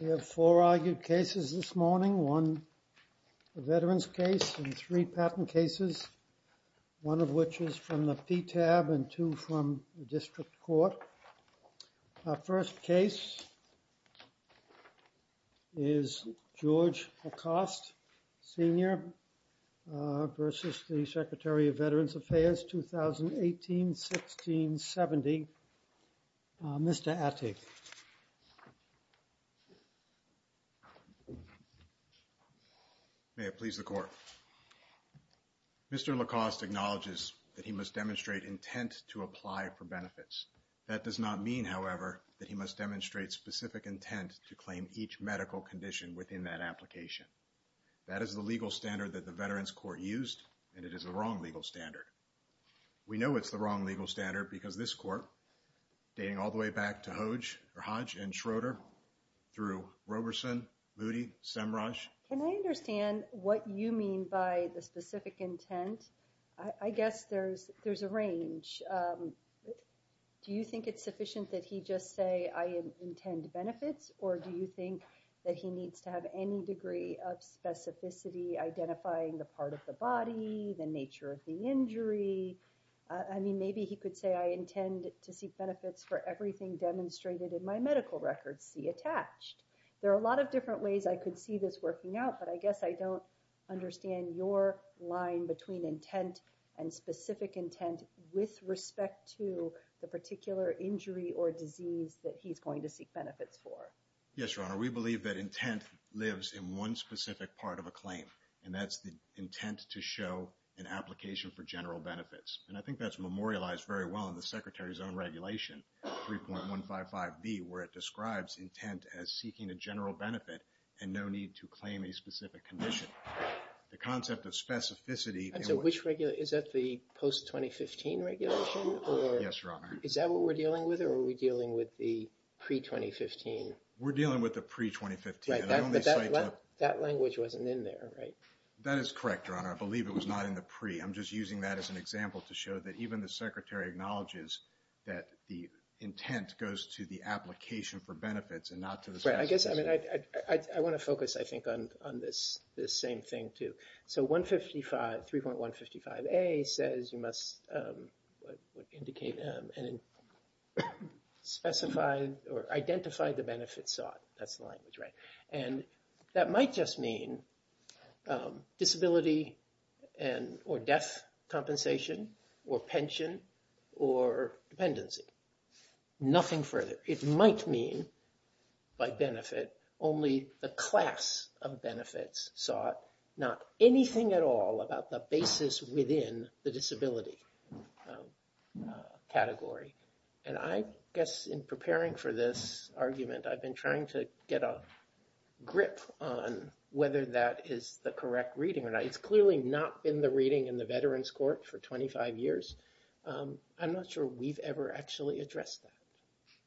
We have four argued cases this morning, one a veterans case and three patent cases, one of which is from the PTAB and two from the district court. Our first case is George Lacoste Sr. v. the Secretary of Veterans Affairs, 2018-16-70, Mr. Attig. May it please the court. Mr. Lacoste acknowledges that he must demonstrate intent to apply for benefits. That does not mean, however, that he must demonstrate specific intent to claim each medical condition within that application. That is the legal standard that the veterans court used and it is the wrong legal standard. We know it's the wrong legal standard because this court, dating all the way back to Hodge and Schroeder through Roberson, Moody, Semraj. Can I understand what you mean by the specific intent? I guess there's a range. Do you think it's sufficient that he just say I intend benefits or do you think that he needs to have any degree of specificity identifying the part of the body, the nature of the injury. I mean maybe he could say I intend to seek benefits for everything demonstrated in my but I guess I don't understand your line between intent and specific intent with respect to the particular injury or disease that he's going to seek benefits for. Yes, Your Honor. We believe that intent lives in one specific part of a claim and that's the intent to show an application for general benefits. And I think that's memorialized very well in the Secretary's own regulation, 3.155B, where it describes intent as seeking a general benefit and no need to claim a specific condition. The concept of specificity. And so which regulation, is that the post-2015 regulation or? Yes, Your Honor. Is that what we're dealing with or are we dealing with the pre-2015? We're dealing with the pre-2015. That language wasn't in there, right? That is correct, Your Honor. I believe it was not in the pre. I'm just using that as an example to show that even the Secretary acknowledges that the intent goes to the application for I want to focus, I think, on this same thing, too. So 3.155A says you must indicate and specify or identify the benefits sought. That's the language, right? And that might just mean disability or death compensation or pension or dependency. Nothing further. It might mean, by benefit, only the class of benefits sought, not anything at all about the basis within the disability category. And I guess in preparing for this argument, I've been trying to get a grip on whether that is the correct reading or not. It's clearly not been the reading in the Veterans Court for that.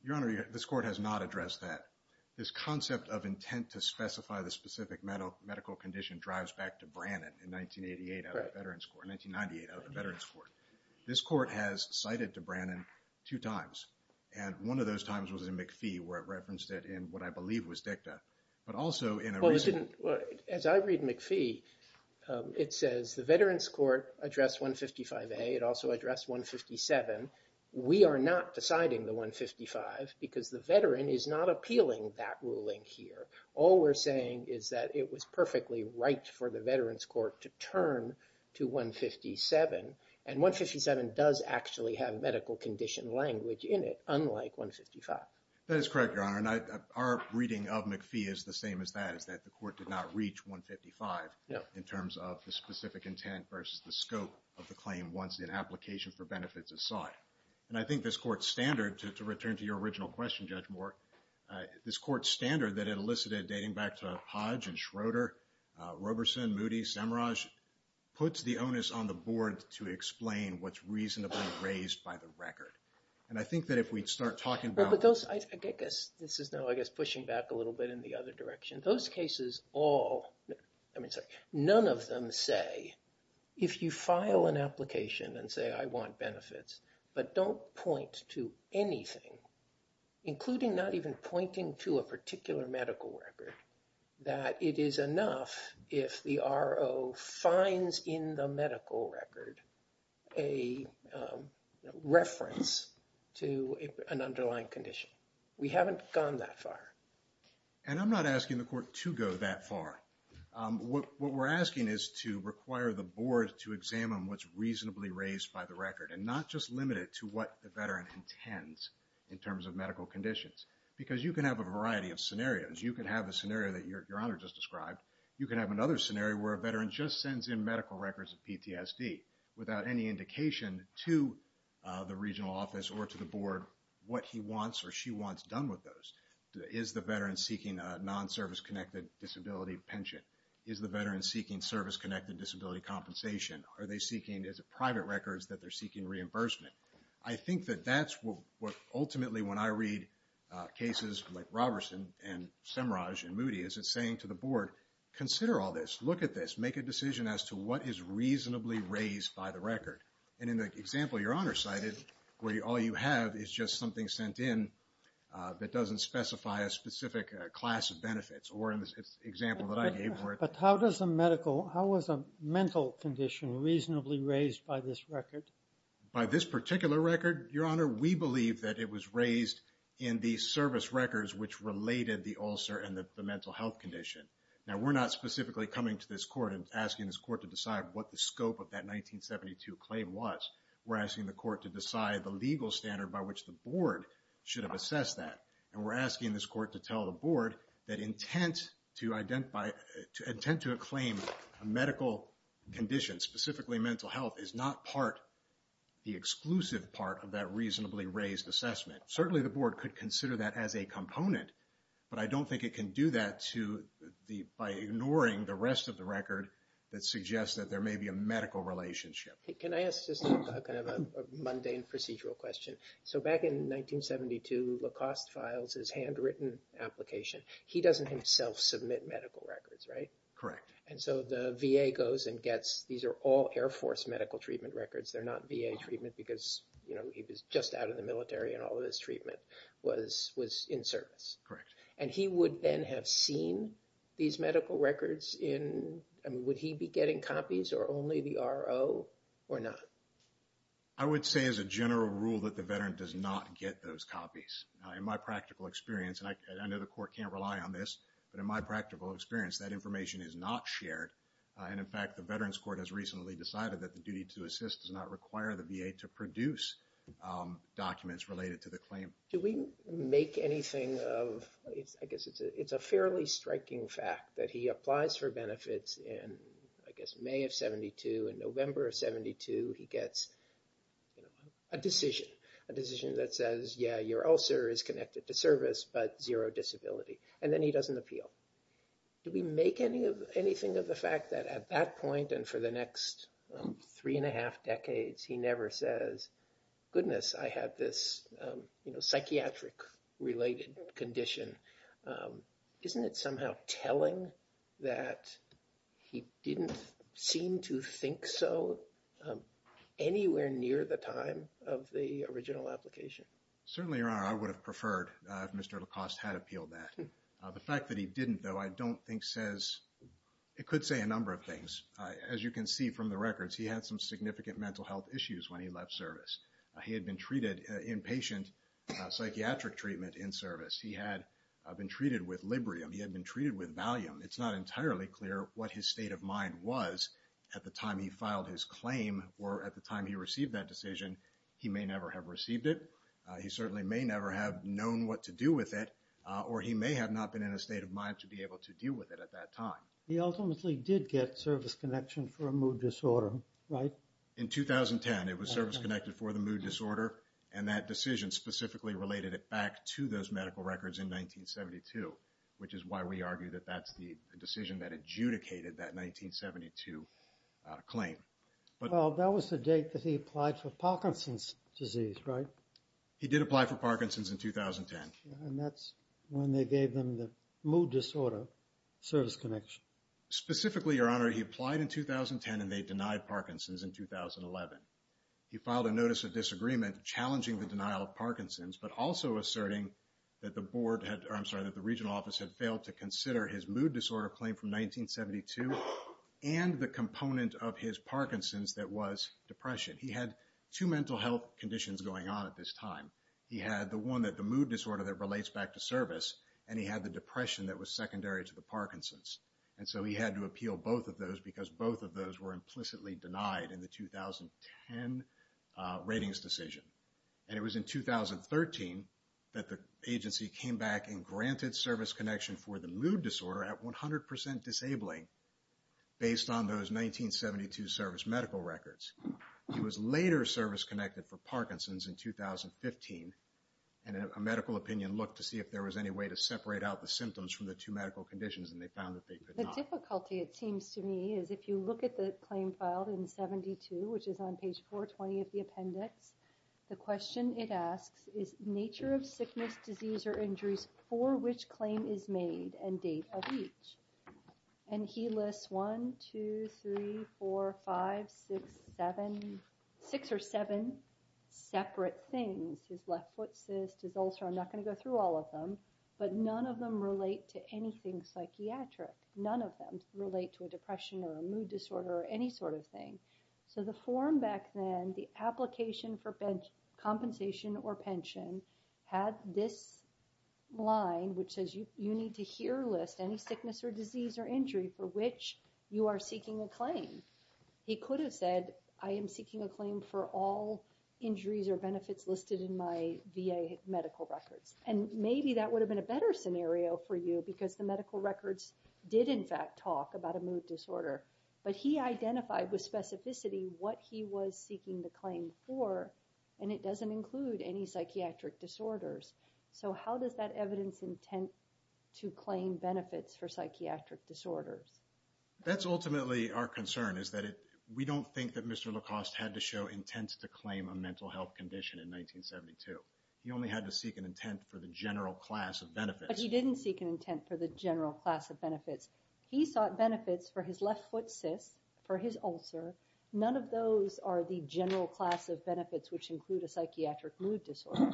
Your Honor, this Court has not addressed that. This concept of intent to specify the specific medical condition drives back to Brannon in 1988 out of the Veterans Court, 1998 out of the Veterans Court. This Court has cited to Brannon two times. And one of those times was in McPhee, where it referenced it in what I believe was dicta. But also in a reason— Well, it didn't—as I read McPhee, it says the Veterans Court addressed 3.155A. It also addressed 3.157. We are not deciding the 3.155 because the veteran is not appealing that ruling here. All we're saying is that it was perfectly right for the Veterans Court to turn to 3.157. And 3.157 does actually have medical condition language in it, unlike 3.155. That is correct, Your Honor. And our reading of McPhee is the same as that, is that the Court did not reach 3.155 in terms of the specific intent versus the scope of the claim once it filed an application for benefits aside. And I think this Court's standard—to return to your original question, Judge Moore—this Court's standard that it elicited dating back to Hodge and Schroeder, Roberson, Moody, Samraj, puts the onus on the Board to explain what's reasonably raised by the record. And I think that if we'd start talking about— Well, but those—I guess this is now, I guess, pushing back a little bit in the other direction. Those cases all—I mean, sorry, none of them say, if you file an application and say, I want benefits, but don't point to anything, including not even pointing to a particular medical record, that it is enough if the RO finds in the medical record a reference to an underlying condition. We haven't gone that far. And I'm not asking the Court to go that far. What we're asking is to require the Board to examine what's reasonably raised by the record, and not just limit it to what the veteran intends in terms of medical conditions. Because you can have a variety of scenarios. You can have a scenario that Your Honor just described. You can have another scenario where a veteran just sends in medical records of PTSD without any indication to the regional office or to the Board what he wants or she wants done with those. Is the veteran seeking a non-service-connected disability pension? Is the veteran seeking service-connected disability compensation? Are they seeking—is it private records that they're seeking reimbursement? I think that that's what, ultimately, when I read cases like Robertson and Semraj and Moody, is it's saying to the Board, consider all this. Look at this. Make a decision as to what is reasonably raised by the record. And in the example Your Honor cited, where all you have is just something sent in that doesn't specify a specific class of benefits, or in the example that I gave for it. But how does a medical—how is a mental condition reasonably raised by this record? By this particular record, Your Honor, we believe that it was raised in the service records which related the ulcer and the mental health condition. Now, we're not specifically coming to this Court and asking this Court to decide what the scope of that 1972 claim was. We're asking the Court to decide the legal standard by which the Board should have assessed that. And we're asking this Court to tell the Board that intent to identify—intent to acclaim a medical condition, specifically mental health, is not part—the exclusive part of that reasonably raised assessment. Certainly, the Board could consider that as a component, but I don't think it can do that to the—by ignoring the rest of the record that suggests that there may be a mundane procedural question. So back in 1972, Lacoste files his handwritten application. He doesn't himself submit medical records, right? Correct. And so the VA goes and gets—these are all Air Force medical treatment records. They're not VA treatment because, you know, he was just out of the military and all of his treatment was in service. Correct. And he would then have seen these medical records in—I mean, would he be getting copies or only the RO or not? I would say as a general rule that the veteran does not get those copies. In my practical experience, and I know the Court can't rely on this, but in my practical experience, that information is not shared. And in fact, the Veterans Court has recently decided that the duty to assist does not require the VA to produce documents related to the claim. Do we make anything of—I guess it's a fairly striking fact that he applies for benefits in, I guess, May of 1972. He gets, you know, a decision. A decision that says, yeah, your ulcer is connected to service, but zero disability. And then he doesn't appeal. Do we make anything of the fact that at that point and for the next three and a half decades, he never says, goodness, I have this, you know, psychiatric-related condition? Isn't it somehow telling that he didn't seem to think so anywhere near the time of the original application? Certainly, Your Honor, I would have preferred if Mr. Lacoste had appealed that. The fact that he didn't, though, I don't think says—it could say a number of things. As you can see from the records, he had some significant mental health issues when he left service. He had been treated, inpatient, psychiatric treatment in service. He had been treated with Librium. He had been was at the time he filed his claim or at the time he received that decision. He may never have received it. He certainly may never have known what to do with it, or he may have not been in a state of mind to be able to deal with it at that time. He ultimately did get service connection for a mood disorder, right? In 2010, it was service-connected for the mood disorder, and that decision specifically related it back to those medical records in 1972, which is why we argue that that's the decision that adjudicated that 1972 claim. Well, that was the date that he applied for Parkinson's disease, right? He did apply for Parkinson's in 2010. And that's when they gave them the mood disorder service connection. Specifically, Your Honor, he applied in 2010, and they denied Parkinson's in 2011. He filed a notice of disagreement challenging the denial of Parkinson's, but also asserting that the Board had, or I'm sorry, that the Regional Office had failed to consider his mood disorder claim from 1972 and the component of his Parkinson's that was depression. He had two mental health conditions going on at this time. He had the one that the mood disorder that relates back to service, and he had the depression that was secondary to the Parkinson's. And so he had to appeal both of those because both of those were implicitly denied in the 2010 ratings decision. And it was in 2013 that the agency came back and granted service connection for the mood disorder at 100% disabling based on those 1972 service medical records. He was later service connected for Parkinson's in 2015, and a medical opinion looked to see if there was any way to separate out the symptoms from the two medical conditions, and they found that they could not. The difficulty, it seems to me, is if you look at the claim filed in 72, which is on page 420 of the appendix, the question it asks is nature of sickness, disease, or injuries for which claim is made and date of each. And he lists one, two, three, four, five, six, seven, six or seven separate things. His left foot cyst, his ulcer, I'm not going to go through all of them, but none of them relate to anything psychiatric. None of them relate to a depression or a mood disorder or any sort of thing. So the form back then, the application for compensation or pension had this line, which says you need to hear list any sickness or disease or injury for which you are seeking a claim. He could have said, I am seeking a claim for all injuries or benefits listed in my VA medical records. And maybe that would have been a better scenario for you because the medical records did in fact talk about a mood disorder, but he identified with specificity what he was seeking the claim for, and it doesn't include any psychiatric disorders. So how does that evidence intent to claim benefits for psychiatric disorders? That's ultimately our concern is that we don't think that Mr. Lacoste had to show intent to claim a mental health condition in 1972. He only had to seek an intent for the general class of benefits. But he didn't seek an intent for the general class of benefits. He sought benefits for his left foot cyst, for his ulcer. None of those are the general class of benefits, which include a psychiatric mood disorder.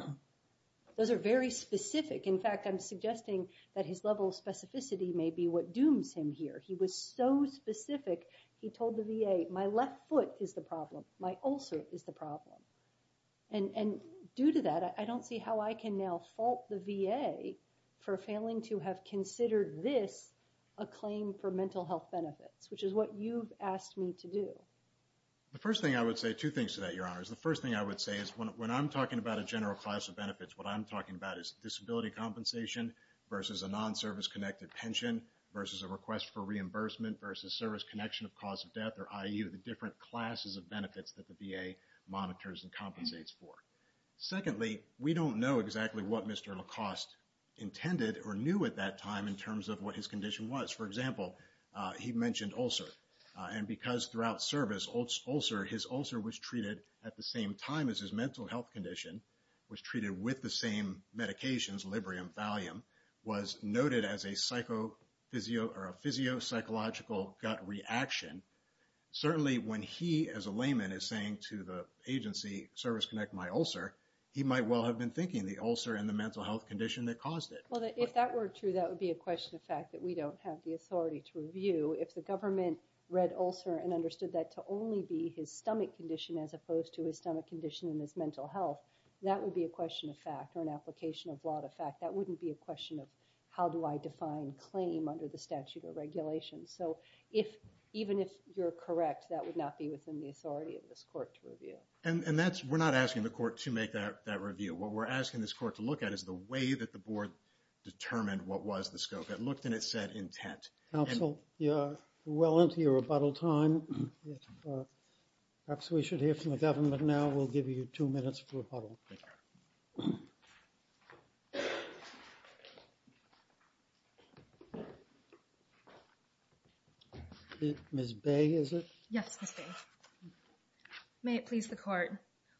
Those are very specific. In fact, I'm suggesting that his level of specificity may be what dooms him here. He was so specific. He told the VA, my left foot is the problem. My ulcer is the problem. And due to that, I don't see how I can now fault the VA for failing to have considered this a claim for mental health benefits, which is what you've asked me to do. The first thing I would say, two things to that, Your Honors. The first thing I would say is when I'm talking about a general class of benefits, what I'm talking about is disability compensation versus a non-service connected pension versus a request for reimbursement versus service connection of cause of death or IU, the different classes of benefits that the VA monitors and compensates for. Secondly, we don't know exactly what Mr. Lacoste intended or knew at that time in terms of what his condition was. For example, he mentioned ulcer. And because throughout service, his ulcer was treated at the same time as his mental health condition, was treated with the same medications, Librium, Valium, was noted as a physio-psychological gut reaction. Certainly when he, as a layman, is saying to the agency, service connect my ulcer, he might well have been thinking the ulcer and the mental health condition that caused it. Well, if that were true, that would be a question of fact that we don't have the authority to review. If the government read ulcer and understood that to only be his stomach condition as opposed to his stomach condition and his mental health, that would be a question of fact or an application of law to fact. That wouldn't be a question of how do I define claim under the statute or regulation. So even if you're correct, that would not be within the authority of this court to review. And that's, we're not asking the court to make that review. What we're asking this court to look at is the way that the board determined what was the scope. It looked and it said intent. Counsel, we're well into your rebuttal time. Perhaps we should hear from the government now. We'll give you two minutes for us to speak. May it please the court.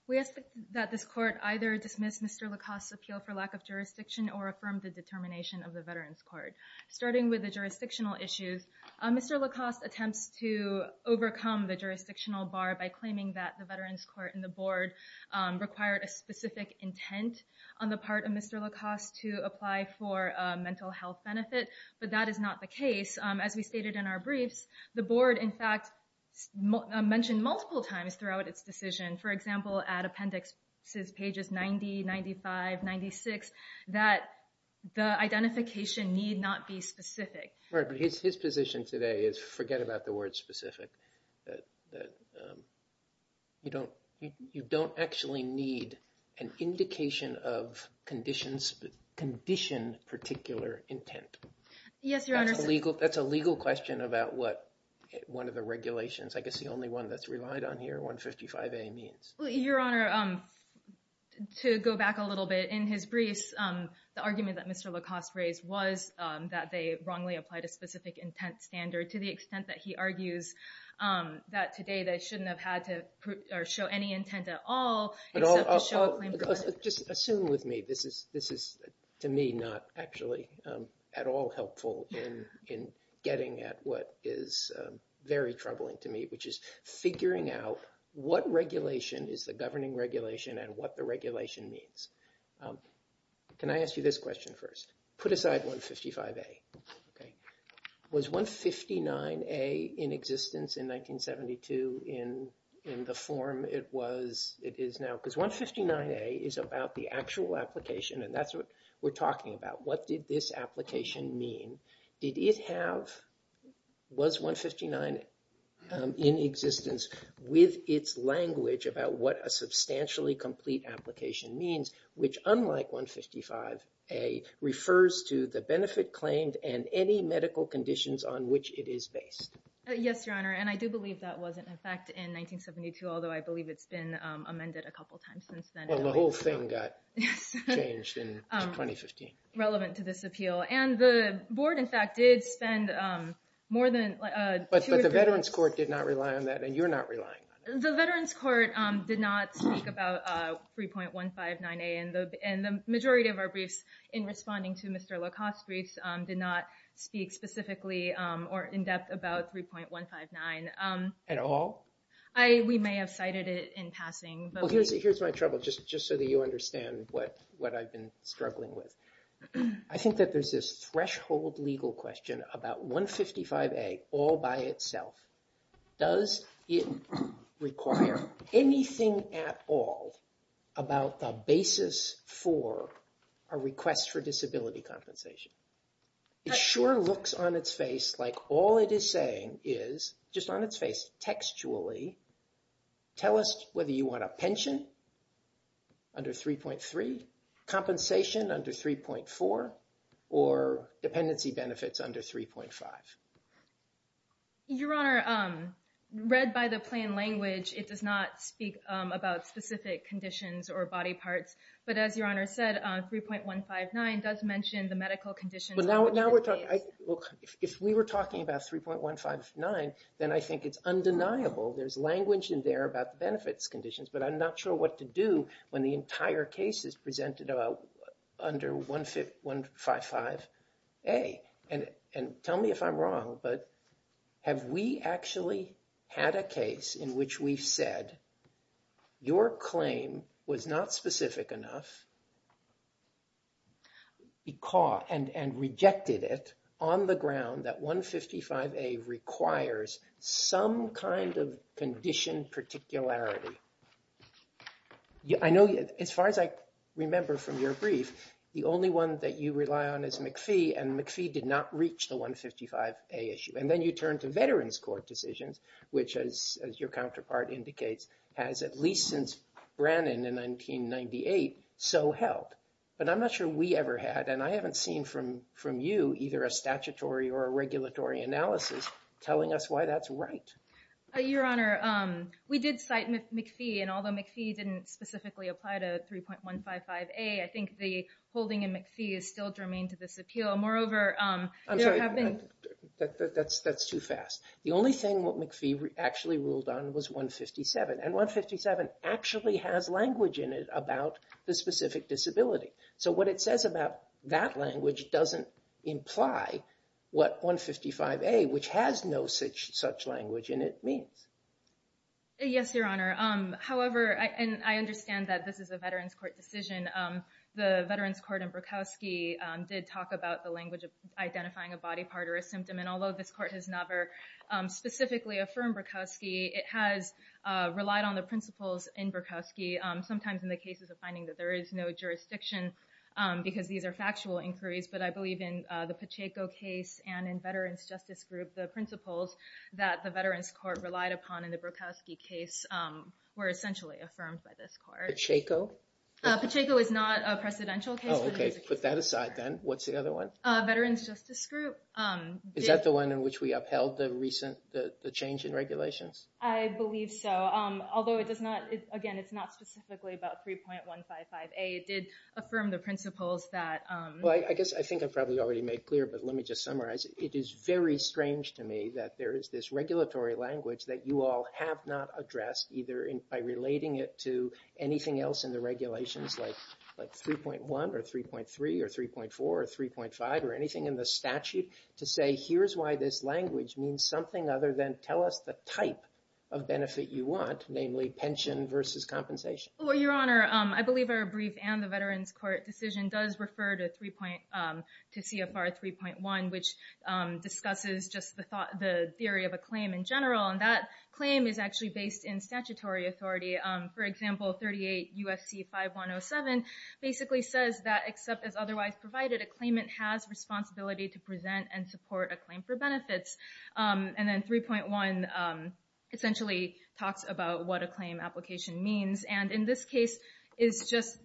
We ask that this court either dismiss Mr. Lacoste's appeal for lack of jurisdiction or affirm the determination of the veterans court. Starting with the jurisdictional issues, Mr. Lacoste attempts to overcome the jurisdictional bar by claiming that the veterans court and the board required a specific intent on the part of Mr. Lacoste to apply for a mental health benefit. But that is not the case. As we stated in our mention multiple times throughout its decision, for example, at appendix pages 90, 95, 96, that the identification need not be specific. Right, but his position today is forget about the word specific. You don't actually need an indication of condition particular intent. Yes, your honor. That's a legal question about what one of the regulations, I guess the only one that's relied on here, 155A means. Your honor, to go back a little bit in his briefs, the argument that Mr. Lacoste raised was that they wrongly applied a specific intent standard to the extent that he argues that today they shouldn't have had to show any intent at all. But just assume with me, this is to me not actually at all helpful in getting at what is very troubling to me, which is figuring out what regulation is the governing regulation and what the regulation means. Can I ask you this question first? Put aside 155A, okay? Was 159A in existence in 1972 in the form it is now? Because 159A is about the actual application and that's what we're talking about. What did this application mean? Was 159 in existence with its language about what a substantially complete application means, which unlike 155A refers to the benefit that was in effect in 1972, although I believe it's been amended a couple times since then. Well, the whole thing got changed in 2015. Relevant to this appeal. And the board, in fact, did spend more than... But the Veterans Court did not rely on that and you're not relying on it. The Veterans Court did not speak about 3.159A and the majority of our briefs in responding to Mr. 159. At all? We may have cited it in passing. Well, here's my trouble, just so that you understand what I've been struggling with. I think that there's this threshold legal question about 155A all by itself. Does it require anything at all about the basis for a request for disability compensation? It sure looks on its face like all it is saying is, just on its face textually, tell us whether you want a pension under 3.3, compensation under 3.4, or dependency benefits under 3.5. Your Honor, read by the plain language, it does not speak about specific conditions or body parts. But as Your Honor said, 3.159 does mention the medical conditions... Well, now we're talking... If we were talking about 3.159, then I think it's undeniable there's language in there about the benefits conditions, but I'm not sure what to do when the entire case is presented under 155A. And tell me if I'm wrong, but have we actually had a case in which we've said your claim was not specific enough and rejected it on the ground that 155A requires some kind of condition particularity? I know, as far as I remember from your brief, the only one that you rely on is McPhee, and McPhee did not reach the 155A issue. Then you turn to Veterans Court decisions, which as your counterpart indicates, has at least since Brannon in 1998, so helped. But I'm not sure we ever had, and I haven't seen from you, either a statutory or a regulatory analysis telling us why that's right. Your Honor, we did cite McPhee, and although McPhee didn't specifically apply to 3.155A, I think the holding in McPhee is still germane to this appeal. Moreover, there have been... That's too fast. The only thing what McPhee actually ruled on was 157, and 157 actually has language in it about the specific disability. So what it says about that language doesn't imply what 155A, which has no such language in it, means. Yes, Your Honor. However, and I understand that this is a Veterans Court decision. The Veterans Court in Brukowski did talk about the language of identifying a body part or a symptom, and although this court has never specifically affirmed Brukowski, it has relied on the principles in Brukowski, sometimes in the cases of finding that there is no jurisdiction, because these are factual inquiries. But I believe in the Pacheco case and in Veterans Justice Group, the principles that the Veterans Court relied upon in the Brukowski case were essentially affirmed by this court. Pacheco? Pacheco is not a precedential case. Oh, okay. Put that aside then. What's the other one? Veterans Justice Group. Is that the one in which we upheld the change in regulations? I believe so, although it does not, again, it's not specifically about 3.155A. It did affirm the principles that... Well, I guess I think I've probably already made clear, but let me just summarize. It is very strange to me that there is this regulatory language that you all have not addressed, either by relating it to anything else in the regulations, like 3.1 or 3.3 or 3.4 or 3.5 or anything in the statute, to say, here's why this language means something other than, tell us the type of benefit you want, namely pension versus compensation. Well, Your Honor, I believe our brief and the Veterans Court decision does refer to CFR 3.1, which discusses just the theory of a claim in general. And that claim is actually based in statutory authority. For example, 38 U.S.C. 5107 basically says that, except as otherwise provided, a claimant has responsibility to present and support a claim for benefits. And then 3.1 essentially talks about what a claim application means. And in this case, it's just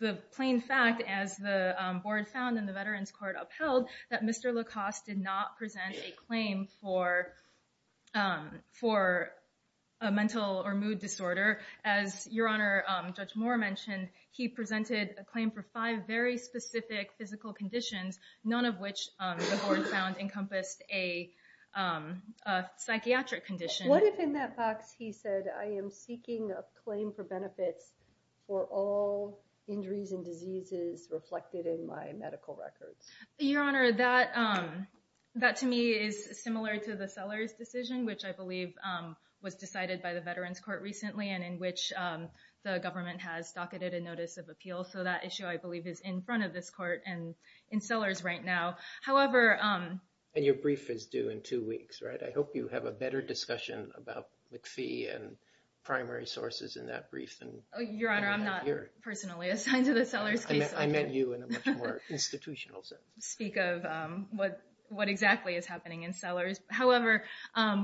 the plain fact, as the board found and the Veterans Court upheld, that Mr. Lacoste did not present a claim for a mental or mood disorder. As Your Honor, Judge Moore mentioned, he presented a claim for five very specific physical conditions, none of which the board found encompassed a psychiatric condition. What if in that box he said, I am seeking a claim for benefits for all injuries and diseases reflected in my medical records? Your Honor, that to me is similar to the Sellers decision, which I believe was decided by the Veterans Court recently and in which the government has docketed a notice of appeal. So that issue, I believe, is in front of this court and in Sellers right now. However... And your brief is due in two weeks, right? I hope you have a better discussion about McPhee and primary sources in that brief. Your Honor, I'm not personally assigned to the Sellers case. I met you in a much more institutional sense. Speak of what exactly is happening in Sellers. However,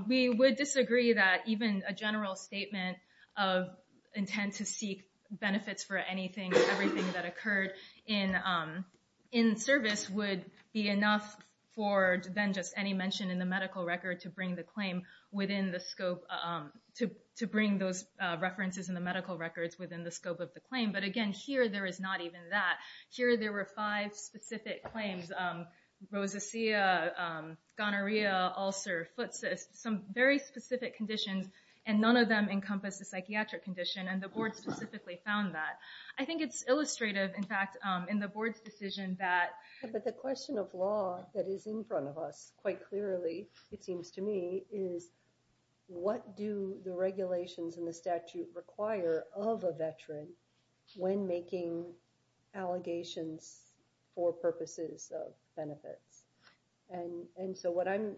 we would disagree that even a general statement of intent to seek benefits for anything, everything that occurred in service would be enough for then just any mention in the medical record to bring the claim within the scope, to bring those references in the medical records within the scope of the claim. But again, here there is not even that. Here there were five specific claims. Rosacea, gonorrhea, ulcer, foot cyst, some very specific conditions and none of them encompass the psychiatric condition. And the board specifically found that. I think it's illustrative, in fact, in the board's decision that... But the question of law that is in front of us, quite clearly, it seems to me, is what do the regulations in the statute require of a veteran when making allegations for purposes of benefits? And so what I'm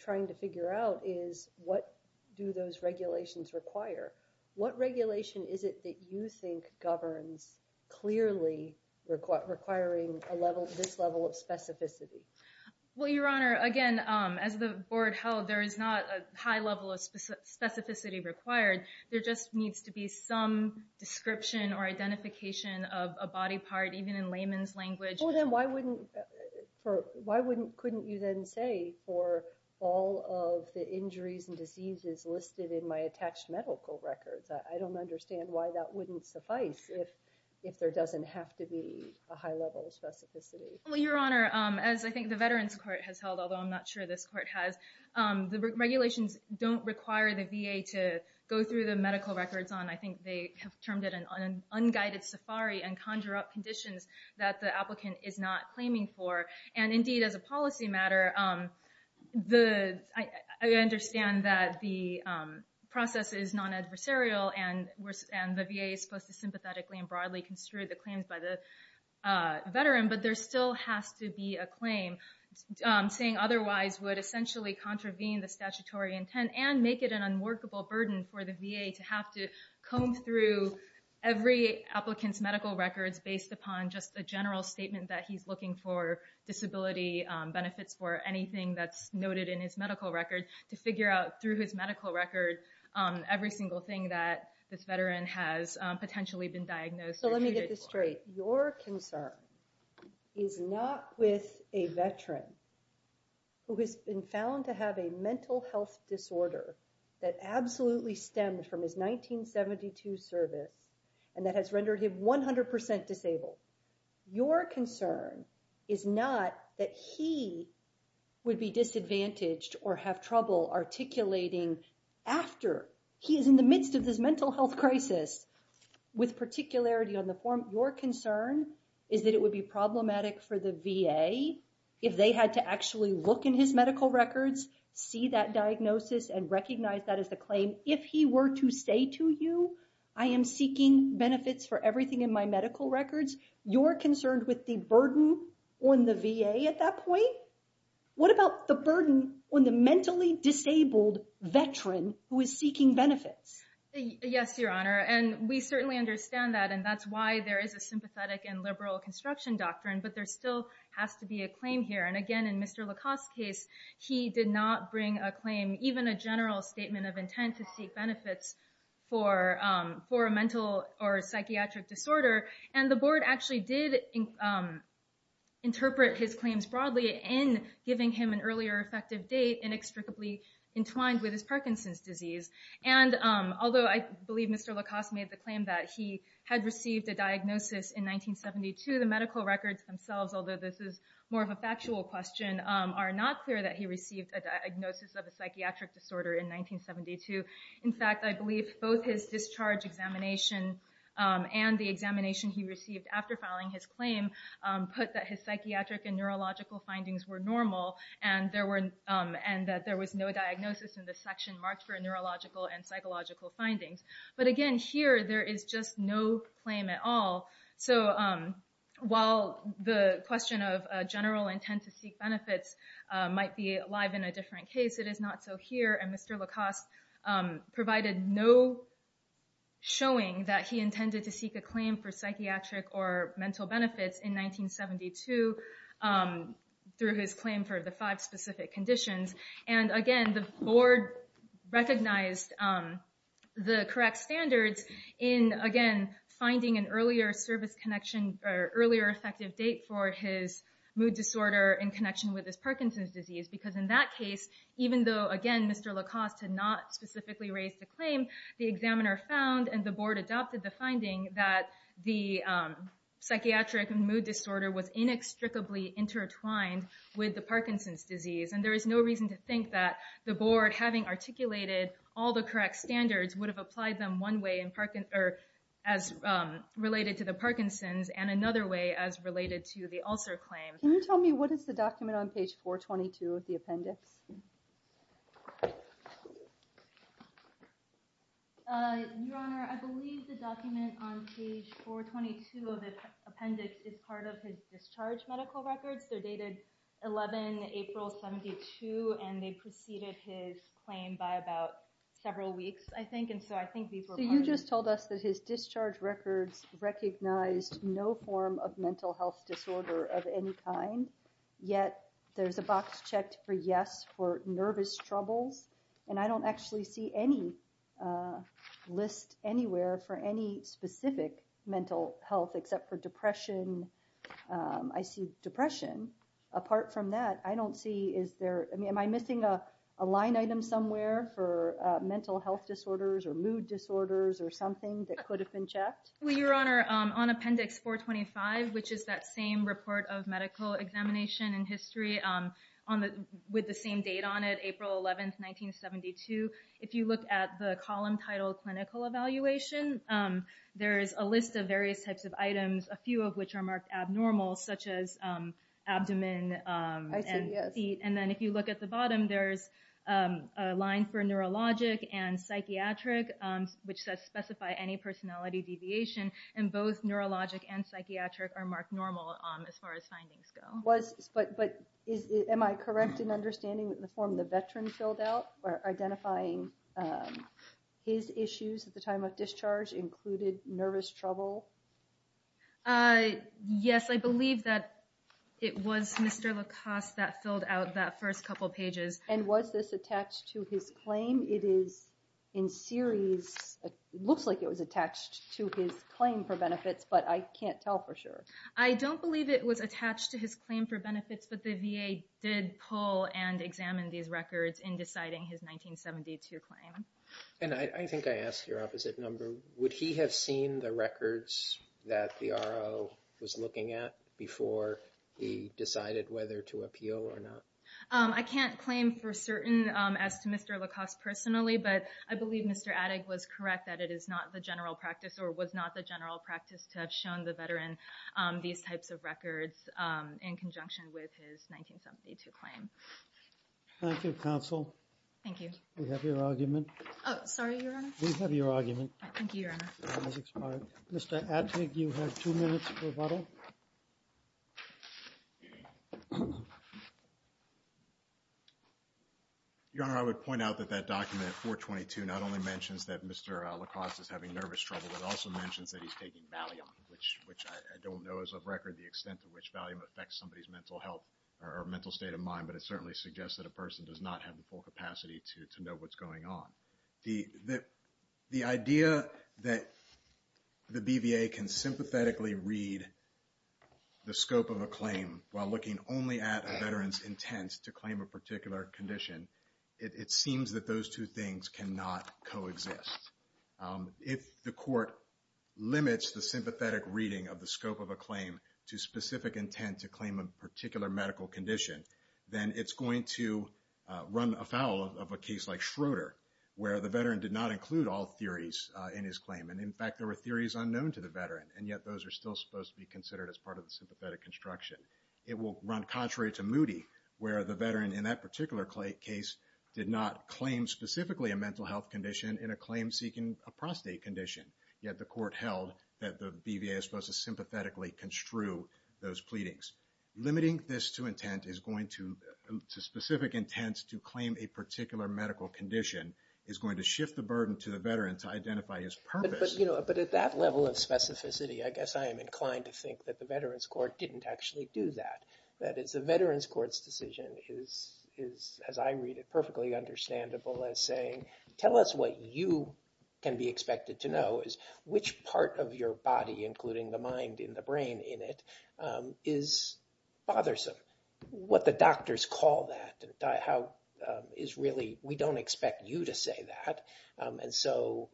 trying to figure out is what do those regulations require? What regulation is it that you think governs clearly requiring this level of specificity? Well, Your Honor, again, as the board held, there is not a high level of specificity required. There just needs to be some description or identification of a body part, even in layman's language. Oh, then why wouldn't... Couldn't you then say for all of the injuries and diseases listed in my attached medical records? I don't understand why that wouldn't suffice if there doesn't have to be a high level of specificity. Well, Your Honor, as I think the Veterans Court has held, although I'm not sure this court has, the regulations don't require the VA to go through the medical records on, I think they have termed it an unguided safari and conjure up conditions that the applicant is not claiming for. And indeed, as a policy matter, I understand that the process is non-adversarial and the VA is supposed to sympathetically and broadly construe the claims by the veteran, but there still has to be a claim saying otherwise would essentially contravene the statutory intent and make it an unworkable burden for the VA to have to comb through every applicant's medical records based upon just a general statement that he's looking for disability benefits for anything that's noted in his medical record to figure out through his medical record every single thing that this veteran has potentially been diagnosed. So let me get this straight. Your concern is not with a veteran who has been found to have a mental health disorder that absolutely stemmed from his 1972 service and that has rendered him 100% disabled. Your concern is not that he would be disadvantaged or have trouble articulating after he is in the midst of this mental health crisis with particularity on the form. Your concern is that it would be problematic for the VA if they had to actually look in his medical records, see that diagnosis, and recognize that as the claim if he were to say to you, I am seeking benefits for everything in my medical records. You're concerned with the burden on the VA at that point. What about the burden on the mentally disabled veteran who is seeking benefits? Yes, Your Honor. And we certainly understand that. And that's why there is a sympathetic and liberal construction doctrine, but there still has to be a claim here. And again, in Mr. Lacoste's case, he did not bring a claim, even a general statement of intent to seek benefits for a mental or psychiatric disorder. And the board actually did interpret his claims broadly in giving him an earlier effective date inextricably entwined with his Parkinson's disease. And although I believe Mr. Lacoste made the claim that he had received a diagnosis in 1972, the medical records themselves, although this is more of a factual question, are not clear that he received a diagnosis of a psychiatric disorder in 1972. In fact, I believe both his discharge examination and the examination he received after filing his claim put that his psychiatric and neurological findings were normal and that there was no diagnosis in the section marked for neurological and psychological findings. But again, here there is just no claim at all. So while the question of a general intent to seek benefits might be alive in a different case, it is not so here. And Mr. Lacoste provided no showing that he intended to seek a claim for psychiatric or mental benefits in 1972 through his claim And again, the board recognized the correct standards in, again, finding an earlier service connection, or earlier effective date for his mood disorder in connection with his Parkinson's disease. Because in that case, even though, again, Mr. Lacoste had not specifically raised the claim, the examiner found and the board adopted the finding that the psychiatric and mood disorder was inextricably intertwined with the Parkinson's disease. And there is no reason to think that the board, having articulated all the correct standards, would have applied them one way or as related to the Parkinson's and another way as related to the ulcer claim. Can you tell me what is the document on page 422 of the appendix? Your Honor, I believe the document on page 422 of the appendix is part of his discharge medical records. They're dated 11 April, 72, and they preceded his claim by about several weeks, I think. And so I think these were part of it. So you just told us that his discharge records recognized no form of mental health disorder of any kind, yet there's a box checked for yes for nervous troubles. And I don't actually see any list anywhere for any specific mental health except for depression. I see depression. Apart from that, I don't see, is there, I mean, am I missing a line item somewhere for mental health disorders or mood disorders or something that could have been checked? Well, Your Honor, on appendix 425, which is that same report of medical examination and history with the same date on it, April 11, 1972, if you look at the column titled clinical evaluation, there's a list of various types of items, a few of which are marked abnormal, such as abdomen and feet. And then if you look at the bottom, there's a line for neurologic and psychiatric, which says specify any personality deviation. And both neurologic and psychiatric are marked normal as far as findings go. But am I correct in understanding the form the veteran filled out for identifying his issues at the time of discharge included nervous trouble? Yes, I believe that it was Mr. Lacoste that filled out that first couple pages. And was this attached to his claim? It is in series, looks like it was attached to his claim for benefits, but I can't tell for sure. I don't believe it was attached to his claim for benefits, but the VA did pull and examine these records in deciding his 1972 claim. And I think I asked your opposite number. Would he have seen the records that the RO was looking at before he decided whether to appeal or not? I can't claim for certain as to Mr. Lacoste personally, but I believe Mr. Adig was correct that it is not the general practice or was not the general practice to have shown the veteran these types of records in conjunction with his 1972 claim. Thank you, counsel. Thank you. We have your argument. Oh, sorry, Your Honor. We have your argument. Thank you, Your Honor. Mr. Adig, you have two minutes for rebuttal. Your Honor, I would point out that that document 422 not only mentions that Mr. Lacoste is having nervous trouble, but also mentions that he's taking Valium, which I don't know as of record the extent to which Valium affects somebody's mental health or mental state of mind, but it certainly suggests that a person does not have the full capacity to know what's going on. The idea that the BVA can sympathetically read the scope of a claim while looking only at a veteran's intent to claim a particular condition it seems that those two things cannot coexist. If the court limits the sympathetic reading of the scope of a claim to specific intent to claim a particular medical condition, then it's going to run afoul of a case like Schroeder where the veteran did not include all theories in his claim. And in fact, there were theories unknown to the veteran. And yet those are still supposed to be considered as part of the sympathetic construction. It will run contrary to Moody where the veteran in that particular case did not claim specifically a mental health condition in a claim seeking a prostate condition. Yet the court held that the BVA is supposed to sympathetically construe those pleadings. Limiting this to intent is going to specific intent to claim a particular medical condition is going to shift the burden to the veteran to identify his purpose. But at that level of specificity, I guess I am inclined to think that the Veterans Court didn't actually do that. That is the Veterans Court's decision is, as I read it, perfectly understandable as saying, tell us what you can be expected to know is which part of your body, including the mind and the brain in it, is bothersome. What the doctors call that and how is really, we don't expect you to say that. And so,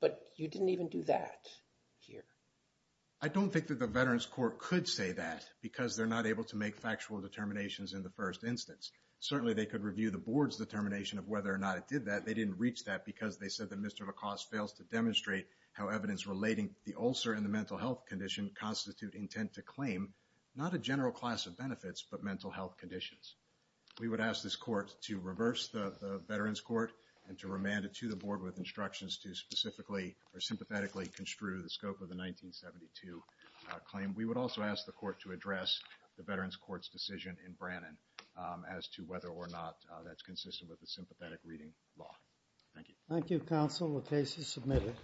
but you didn't even do that here. I don't think that the Veterans Court could say that because they're not able to make factual determinations in the first instance. Certainly, they could review the board's determination of whether or not it did that. They didn't reach that because they said that Mr. Lacoste fails to demonstrate how evidence relating the ulcer and the mental health condition constitute intent to claim not a general class of benefits, but mental health conditions. We would ask this court to reverse the Veterans Court and to remand it to the board with instructions to specifically or sympathetically construe the scope of the 1972 claim. We would also ask the court to address the Veterans Court's decision in Brannon as to whether or not that's consistent with the sympathetic reading law. Thank you. Thank you, counsel. The case is submitted.